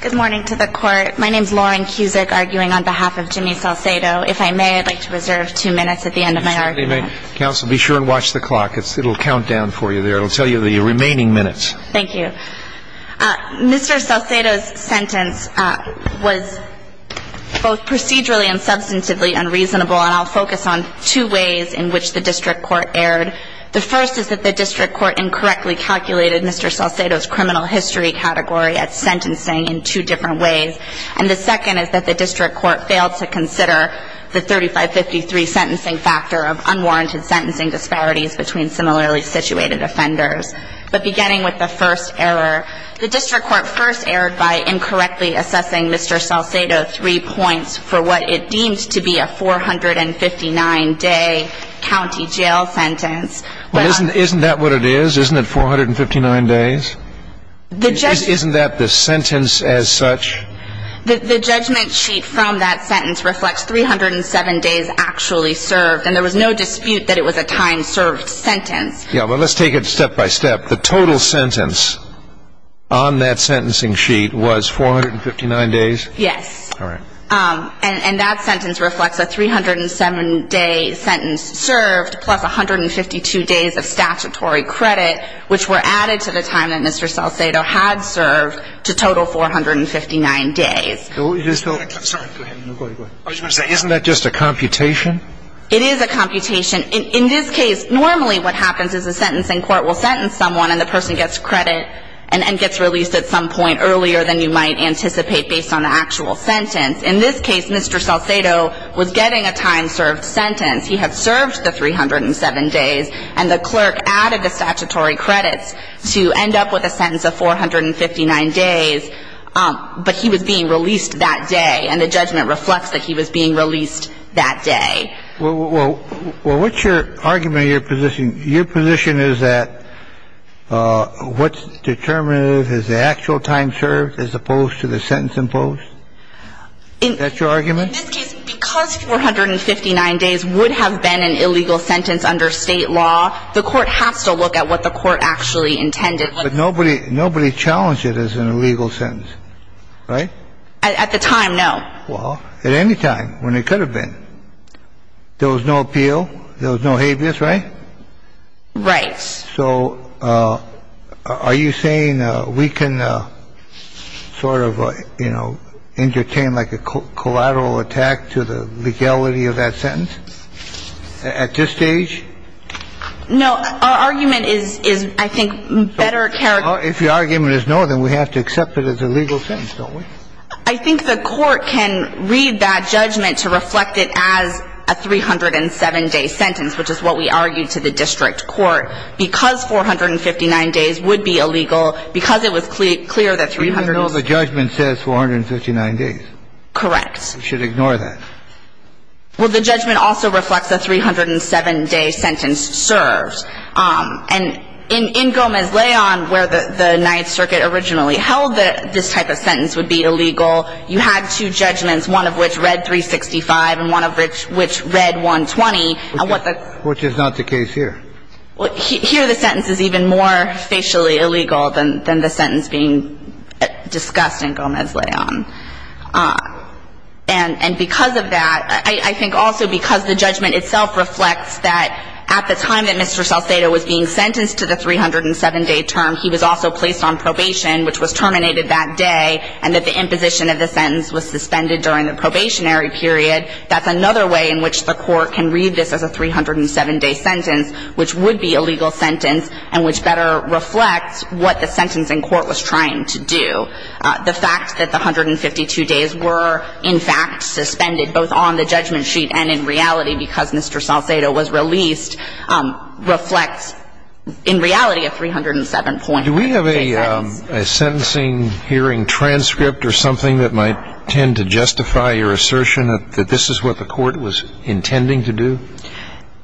Good morning to the court. My name is Lauren Cusick, arguing on behalf of Jimmy Salcedo. If I may, I'd like to reserve two minutes at the end of my argument. Counsel, be sure and watch the clock. It'll count down for you there. It'll tell you the remaining minutes. Thank you. Mr. Salcedo's sentence was both procedurally and substantively unreasonable, and I'll focus on two ways in which the district court erred. The first is that the district court incorrectly calculated Mr. Salcedo's criminal history category at sentencing in two different ways. And the second is that the district court failed to consider the 3553 sentencing factor of unwarranted sentencing disparities between similarly situated offenders. But beginning with the first error, the district court first erred by incorrectly assessing Mr. Salcedo three points for what it deemed to be a 459-day county jail sentence. Well, isn't that what it is? Isn't it 459 days? Isn't that the sentence as such? The judgment sheet from that sentence reflects 307 days actually served, and there was no dispute that it was a time-served sentence. Yeah, but let's take it step by step. The total sentence on that sentencing sheet was 459 days? Yes. And that sentence reflects a 307-day sentence served plus 152 days of statutory credit, which were added to the time that Mr. Salcedo had served to total 459 days. Isn't that just a computation? It is a computation. In this case, normally what happens is the sentencing court will sentence someone, and the person gets credit and gets released at some point earlier than you might anticipate based on the actual sentence. In this case, Mr. Salcedo was getting a time-served sentence. He had served the 307 days, and the clerk added the statutory credits to end up with a sentence of 459 days. But he was being released that day, and the judgment reflects that he was being released that day. Well, what's your argument or your position? Your position is that what's determinative is the actual time served as opposed to the sentence imposed? Is that your argument? In this case, because 459 days would have been an illegal sentence under State law, the court has to look at what the court actually intended. But nobody challenged it as an illegal sentence, right? At the time, no. Well, at any time when it could have been. There was no appeal. There was no habeas, right? Right. So are you saying we can sort of, you know, entertain like a collateral attack to the legality of that sentence at this stage? No. Our argument is, I think, better characterized. If your argument is no, then we have to accept that it's a legal sentence, don't we? I think the court can read that judgment to reflect it as a 307-day sentence, which is what we argued to the district court. Because 459 days would be illegal, because it was clear that 307 days would be illegal. Even though the judgment says 459 days? Correct. We should ignore that. Well, the judgment also reflects a 307-day sentence served. And in Gomez-Leon, where the Ninth Circuit originally held that this type of sentence would be illegal, you had two judgments, one of which read 365 and one of which read 120. Which is not the case here. Here the sentence is even more facially illegal than the sentence being discussed in Gomez-Leon. And because of that, I think also because the judgment itself reflects that at the time that Mr. Salcedo was being sentenced to the 307-day term, he was also placed on probation, which was terminated that day, and that the imposition of the sentence was suspended during the probationary period, that's another way in which the court can read this as a 307-day sentence, which would be a legal sentence, and which better reflects what the sentencing court was trying to do. The fact that the 152 days were, in fact, suspended both on the judgment sheet and in reality because Mr. Salcedo was released reflects, in reality, a 307-point day sentence. Do we have a sentencing hearing transcript or something that might tend to justify your assertion that this is what the court was intending to do?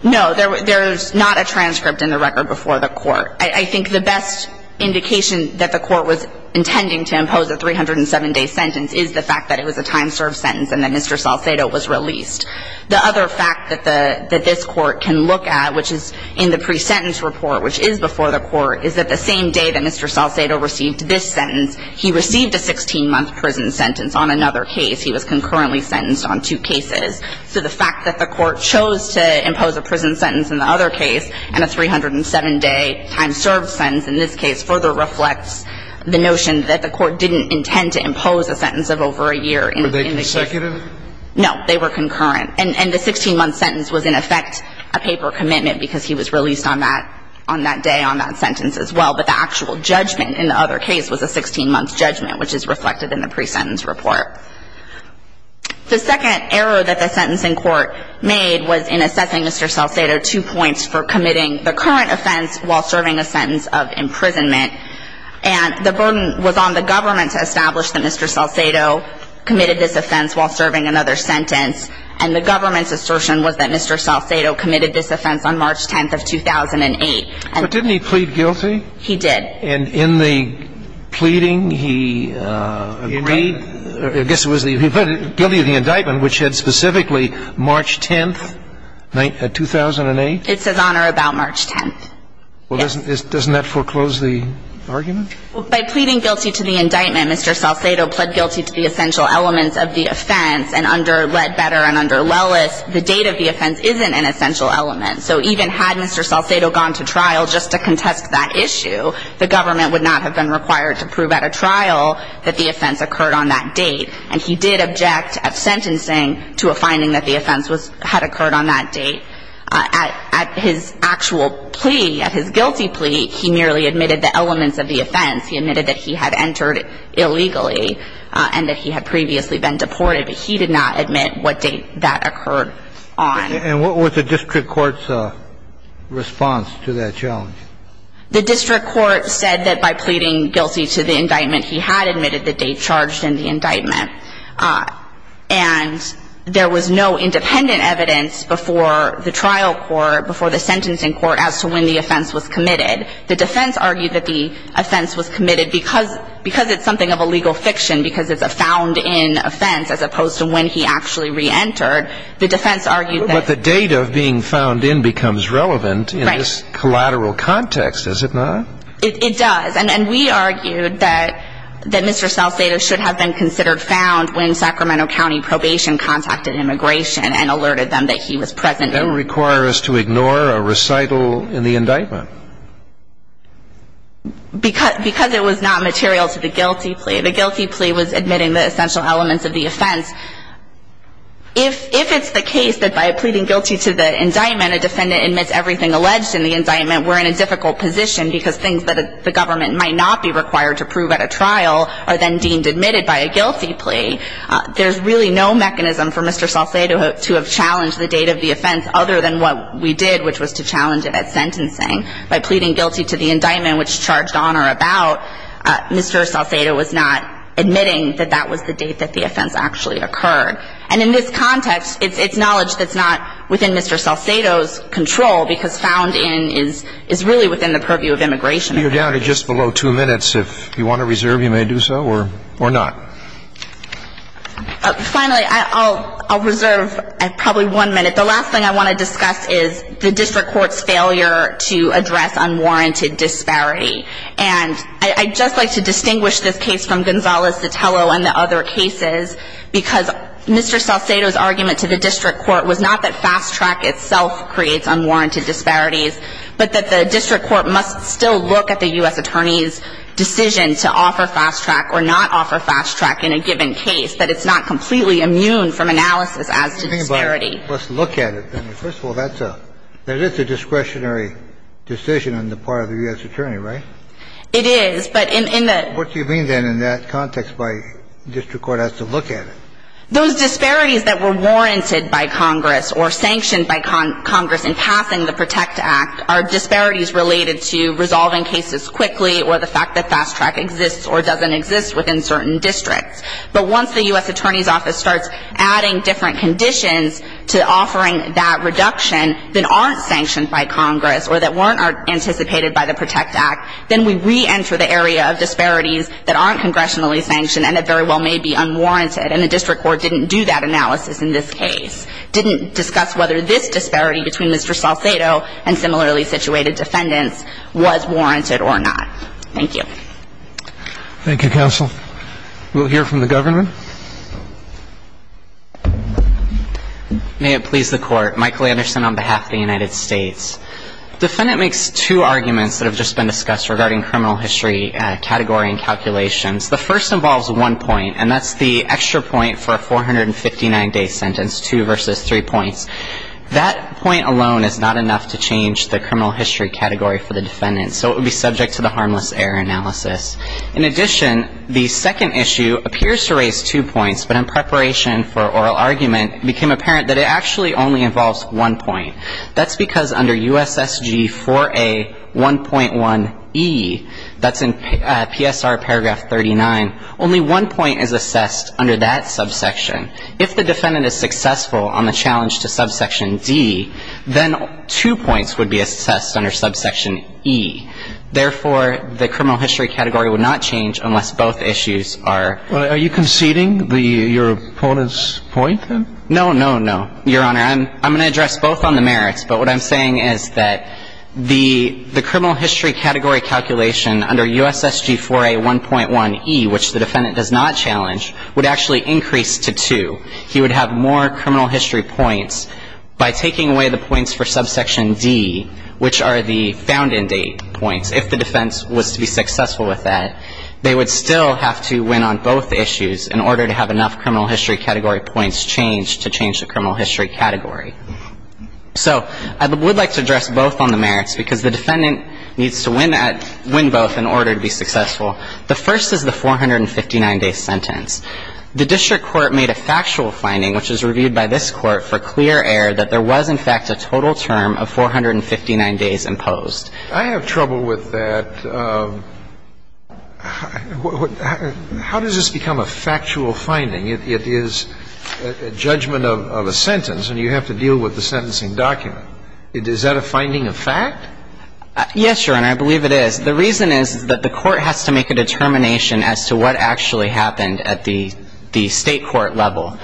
No, there's not a transcript in the record before the court. I think the best indication that the court was intending to impose a 307-day sentence is the fact that it was a time-served sentence and that Mr. Salcedo was released. The other fact that this court can look at, which is in the pre-sentence report, which is before the court, is that the same day that Mr. Salcedo received this sentence, he received a 16-month prison sentence on another case. He was concurrently sentenced on two cases. So the fact that the court chose to impose a prison sentence in the other case and a 307-day time-served sentence in this case further reflects the notion that the court didn't intend to impose a sentence of over a year in the case. Were they consecutive? No, they were concurrent. And the 16-month sentence was, in effect, a paper commitment because he was released on that day on that sentence as well. But the actual judgment in the other case was a 16-month judgment, which is reflected in the pre-sentence report. The second error that the sentencing court made was in assessing Mr. Salcedo, two points for committing the current offense while serving a sentence of imprisonment. And the burden was on the government to establish that Mr. Salcedo committed this offense while serving another sentence. And the government's assertion was that Mr. Salcedo committed this offense on March 10th of 2008. But didn't he plead guilty? He did. And in the pleading, he agreed? I guess it was the guilty of the indictment, which had specifically March 10th, 2008? It says, Honor, about March 10th. Yes. Well, doesn't that foreclose the argument? By pleading guilty to the indictment, Mr. Salcedo pled guilty to the essential elements of the offense. And under Ledbetter and under Lellis, the date of the offense isn't an essential element. So even had Mr. Salcedo gone to trial just to contest that issue, the government would not have been required to prove at a trial that the offense occurred on that date. And he did object at sentencing to a finding that the offense had occurred on that date. At his actual plea, at his guilty plea, he merely admitted the elements of the offense. He admitted that he had entered illegally and that he had previously been deported, but he did not admit what date that occurred on. And what was the district court's response to that challenge? The district court said that by pleading guilty to the indictment, he had admitted the date charged in the indictment. And there was no independent evidence before the trial court, before the sentencing court, as to when the offense was committed. The defense argued that the offense was committed because it's something of a legal fiction, because it's a found-in offense as opposed to when he actually reentered. The defense argued that... But the date of being found in becomes relevant in this collateral context, is it not? It does. And we argued that Mr. Salcedo should have been considered found when Sacramento County Probation contacted Immigration and alerted them that he was present. That would require us to ignore a recital in the indictment. Because it was not material to the guilty plea. The guilty plea was admitting the essential elements of the offense. If it's the case that by pleading guilty to the indictment, a defendant admits everything alleged in the indictment, we're in a difficult position, because things that the government might not be required to prove at a trial are then deemed admitted by a guilty plea. There's really no mechanism for Mr. Salcedo to have challenged the date of the offense, other than what we did, which was to challenge it at sentencing. By pleading guilty to the indictment, which charged on or about, Mr. Salcedo was not admitting that that was the date that the offense actually occurred. And in this context, it's knowledge that's not within Mr. Salcedo's control, because found in is really within the purview of Immigration. You're down to just below two minutes. If you want to reserve, you may do so, or not. Finally, I'll reserve probably one minute. The last thing I want to discuss is the district court's failure to address unwarranted disparity. And I'd just like to distinguish this case from Gonzales-Sotelo and the other cases, because Mr. Salcedo's argument to the district court was not that fast track itself creates unwarranted disparities, but that the district court must still look at the U.S. attorney's decision to offer fast track or not offer fast track in a given case, that it's not completely immune from analysis as to disparity. Let's look at it. First of all, that's a – that is a discretionary decision on the part of the U.S. attorney, right? It is, but in the – What do you mean, then, in that context why district court has to look at it? Those disparities that were warranted by Congress or sanctioned by Congress in passing the PROTECT Act are disparities related to resolving cases quickly or the fact that fast track exists or doesn't exist within certain districts. But once the U.S. Attorney's Office starts adding different conditions to offering that reduction, that aren't sanctioned by Congress or that weren't anticipated by the PROTECT Act, then we reenter the area of disparities that aren't congressionally sanctioned and that very well may be unwarranted. And the district court didn't do that analysis in this case, didn't discuss whether this disparity between Mr. Salcedo and similarly situated defendants was warranted or not. Thank you. Thank you, counsel. We'll hear from the governor. May it please the Court. Michael Anderson on behalf of the United States. The defendant makes two arguments that have just been discussed regarding criminal history category and calculations. The first involves one point, and that's the extra point for a 459-day sentence, two versus three points. That point alone is not enough to change the criminal history category for the defendant, so it would be subject to the harmless error analysis. In addition, the second issue appears to raise two points, but in preparation for oral argument, it became apparent that it actually only involves one point. That's because under USSG 4A 1.1E, that's in PSR paragraph 39, only one point is assessed under that subsection. If the defendant is successful on the challenge to subsection D, then two points would be assessed under subsection E. Therefore, the criminal history category would not change unless both issues are Are you conceding your opponent's point, then? No, no, no, Your Honor. I'm going to address both on the merits, but what I'm saying is that the criminal history category calculation under USSG 4A 1.1E, which the defendant does not challenge, would actually increase to two. He would have more criminal history points by taking away the points for subsection D, which are the found-in date points, if the defense was to be successful with that. They would still have to win on both issues in order to have enough criminal history category points changed to change the criminal history category. So I would like to address both on the merits because the defendant needs to win at win both in order to be successful. The first is the 459-day sentence. The district court made a factual finding, which was reviewed by this Court for clear error that there was, in fact, a total term of 459 days imposed. I have trouble with that. How does this become a factual finding? It is a judgment of a sentence, and you have to deal with the sentencing document. Is that a finding of fact? Yes, Your Honor, I believe it is. The reason is that the Court has to make a determination as to what actually happened at the State court level.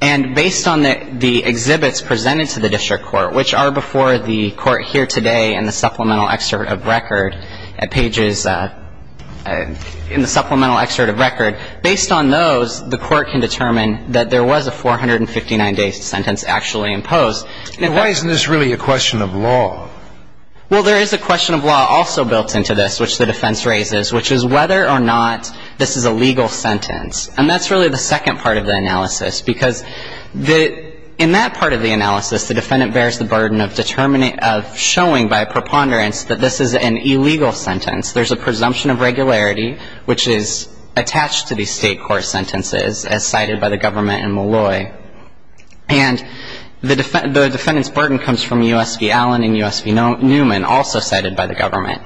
And based on the exhibits presented to the district court, which are before the Court here today in the supplemental excerpt of record at pages, in the supplemental excerpt of record, based on those, the Court can determine that there was a 459-day sentence actually imposed. And why isn't this really a question of law? Well, there is a question of law also built into this, which the defense raises, which is whether or not this is a legal sentence. And that's really the second part of the analysis because in that part of the analysis, the defendant bears the burden of showing by preponderance that this is an illegal sentence. There's a presumption of regularity, which is attached to these State court sentences as cited by the government in Malloy. And the defendant's burden comes from U.S. v. Allen and U.S. v. Newman, also cited by the government.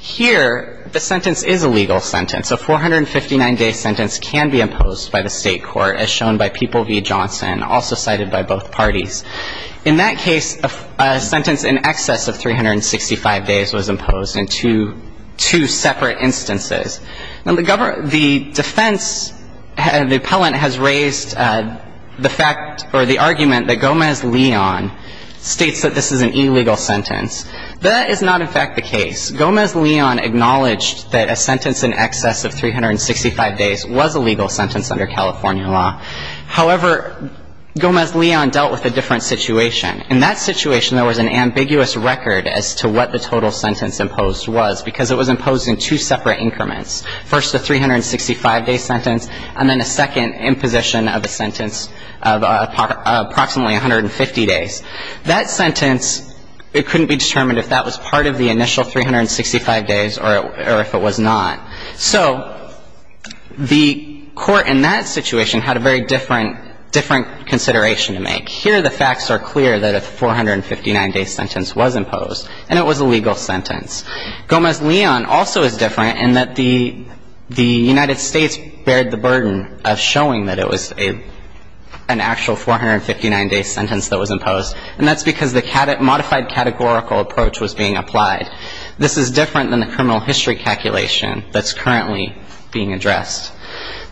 Here, the sentence is a legal sentence. A 459-day sentence can be imposed by the State court, as shown by People v. Johnson, also cited by both parties. In that case, a sentence in excess of 365 days was imposed in two separate instances. Now, the defense, the appellant has raised the fact or the argument that Gomez-Leon states that this is an illegal sentence. That is not, in fact, the case. Gomez-Leon acknowledged that a sentence in excess of 365 days was a legal sentence under California law. However, Gomez-Leon dealt with a different situation. In that situation, there was an ambiguous record as to what the total sentence imposed was, because it was imposed in two separate increments, first a 365-day sentence and then a second imposition of a sentence of approximately 150 days. That sentence, it couldn't be determined if that was part of the initial 365 days or if it was not. So the court in that situation had a very different consideration to make. Here, the facts are clear that a 459-day sentence was imposed, and it was a legal sentence. Gomez-Leon also is different in that the United States bared the burden of showing that it was an actual 459-day sentence that was imposed, and that's because the modified categorical approach was being applied. This is different than the criminal history calculation that's currently being addressed.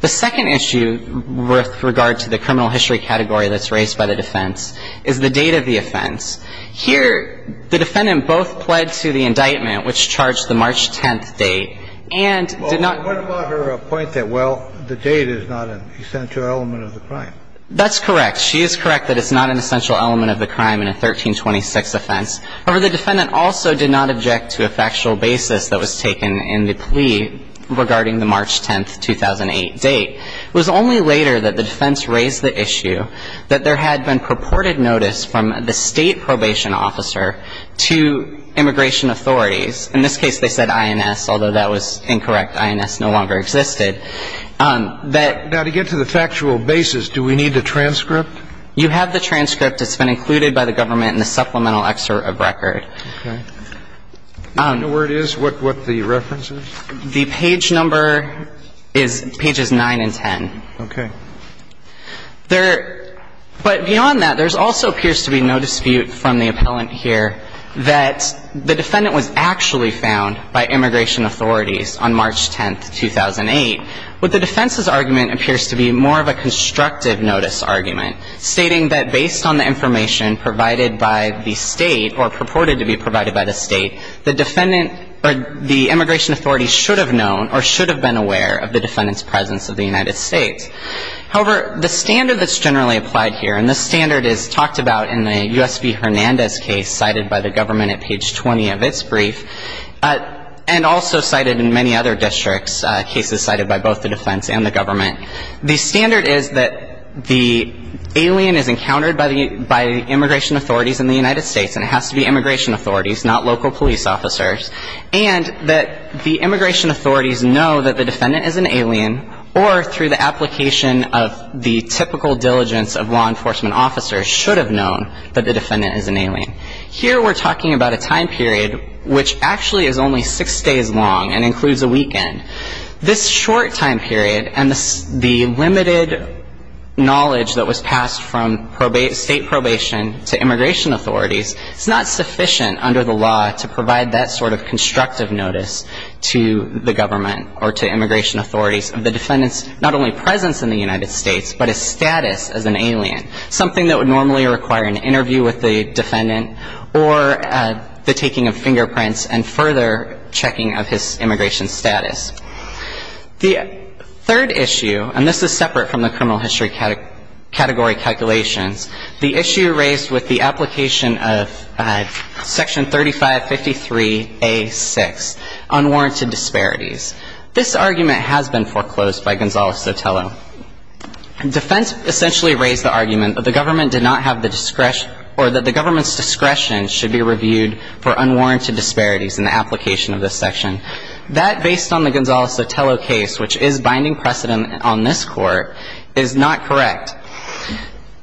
The second issue with regard to the criminal history category that's raised by the defense is the date of the offense. Here, the defendant both pled to the indictment, which charged the March 10th date, and did not ---- Kennedy What about her point that, well, the date is not an essential element of the crime? That's correct. She is correct that it's not an essential element of the crime in a 1326 offense. However, the defendant also did not object to a factual basis that was taken in the plea regarding the March 10th, 2008 date. It was only later that the defense raised the issue that there had been purported notice from the State Probation Officer to immigration authorities. In this case, they said INS, although that was incorrect. INS no longer existed. That ---- Kennedy Now, to get to the factual basis, do we need the transcript? It's been included by the government in the supplemental excerpt of record. Kennedy Okay. Do you know where it is, what the reference is? The page number is pages 9 and 10. Kennedy Okay. There ---- But beyond that, there also appears to be no dispute from the appellant here that the defendant was actually found by immigration authorities on March 10th, 2008, what the defense's argument appears to be more of a constructive notice argument, stating that based on the information provided by the State or purported to be provided by the State, the defendant or the immigration authorities should have known or should have been aware of the defendant's presence of the United States. However, the standard that's generally applied here, and this standard is talked about in the U.S. v. Hernandez case cited by the government at page 20 of its brief and also cited in many other districts, cases cited by both the defense and the government, the standard is that the alien is encountered by the immigration authorities in the United States, and it has to be immigration authorities, not local police officers, and that the immigration authorities know that the defendant is an alien or through the application of the typical diligence of law enforcement officers, should have known that the defendant is an alien. Here we're talking about a time period which actually is only six days long and includes a weekend. This short time period and the limited knowledge that was passed from state probation to immigration authorities is not sufficient under the law to provide that sort of constructive notice to the government or to immigration authorities of the defendant's not only presence in the United States, but his status as an alien, something that would normally require an interview with the defendant or the taking of fingerprints and further checking of his immigration status. The third issue, and this is separate from the criminal history category calculations, the issue raised with the application of section 3553A6, unwarranted disparities. This argument has been foreclosed by Gonzalo Sotelo. Defense essentially raised the argument that the government did not have the discretion or that the government's discretion should be reviewed for unwarranted disparities in the application of this section. That, based on the Gonzalo Sotelo case, which is binding precedent on this court, is not correct.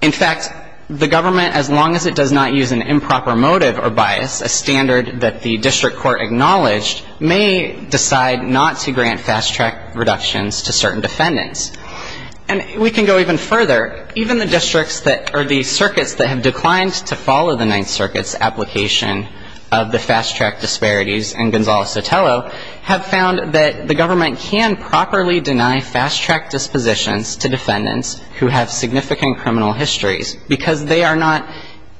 In fact, the government, as long as it does not use an improper motive or bias, a standard that the district court acknowledged, may decide not to grant fast track reductions to certain defendants. And we can go even further. Even the districts that, or the circuits that have declined to follow the Ninth Circuit's application of the fast track disparities in Gonzalo Sotelo have found that the government can properly deny fast track dispositions to defendants who have significant criminal histories because they are not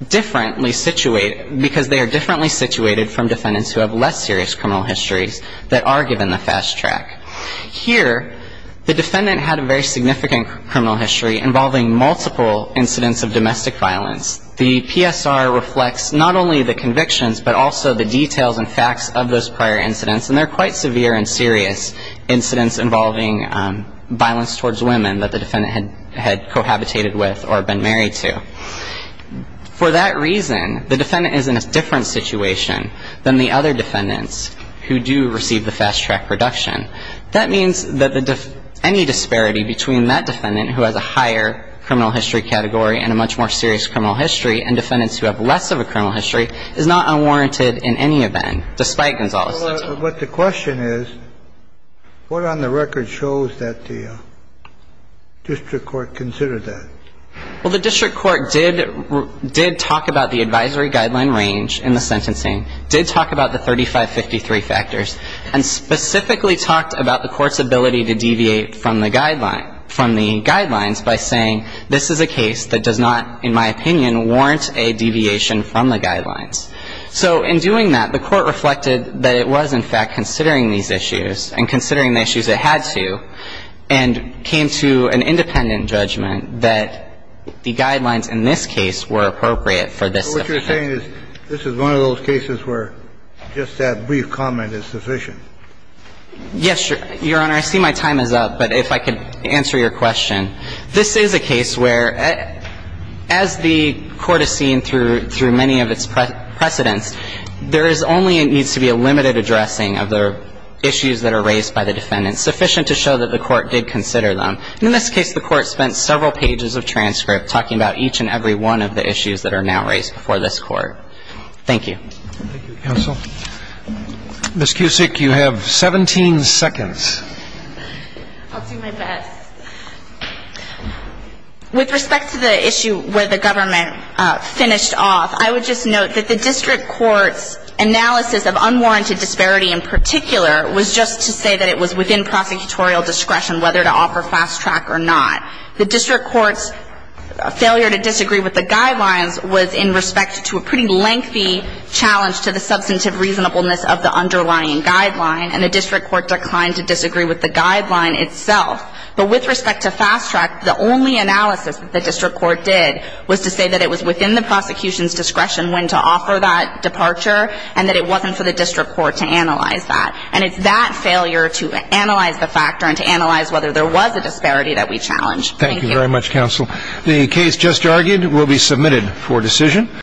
differently situated, because they are differently situated from defendants who have less serious criminal histories that are given the fast track. Here, the defendant had a very significant criminal history involving multiple incidents of domestic violence. The PSR reflects not only the convictions but also the details and facts of those prior incidents, and they're quite severe and serious incidents involving violence towards women that the defendant had cohabitated with or been married to. For that reason, the defendant is in a different situation than the other defendants who do receive the fast track reduction. That means that any disparity between that defendant who has a higher criminal history category and a much more serious criminal history and defendants who have less of a criminal history is not unwarranted in any event, despite Gonzalo Sotelo. But the question is, what on the record shows that the district court considered that? Well, the district court did talk about the advisory guideline range in the sentencing, did talk about the 3553 factors, and specifically talked about the court's ability to deviate from the guideline by saying this is a case that does not, in my opinion, warrant a deviation from the guidelines. So in doing that, the court reflected that it was, in fact, considering these issues and considering the issues it had to, and came to an independent judgment that the guidelines in this case were appropriate for this defendant. So what I'm saying is this is one of those cases where just that brief comment is sufficient. Yes, Your Honor. I see my time is up, but if I could answer your question. This is a case where, as the court has seen through many of its precedents, there is only and needs to be a limited addressing of the issues that are raised by the defendant, sufficient to show that the court did consider them. And in this case, the court spent several pages of transcript talking about each and every one of the issues that are now raised before this Court. Thank you. Thank you, counsel. Ms. Cusick, you have 17 seconds. I'll do my best. With respect to the issue where the government finished off, I would just note that the district court's analysis of unwarranted disparity in particular was just to say that it was within prosecutorial discretion whether to offer fast track or not. The district court's failure to disagree with the guidelines was in respect to a pretty lengthy challenge to the substantive reasonableness of the underlying guideline, and the district court declined to disagree with the guideline itself. But with respect to fast track, the only analysis that the district court did was to say that it was within the prosecution's discretion when to offer that departure and that it wasn't for the district court to analyze that. And it's that failure to analyze the factor and to analyze whether there was a disparity that we challenge. Thank you. Thank you very much, counsel. The case just argued will be submitted for decision.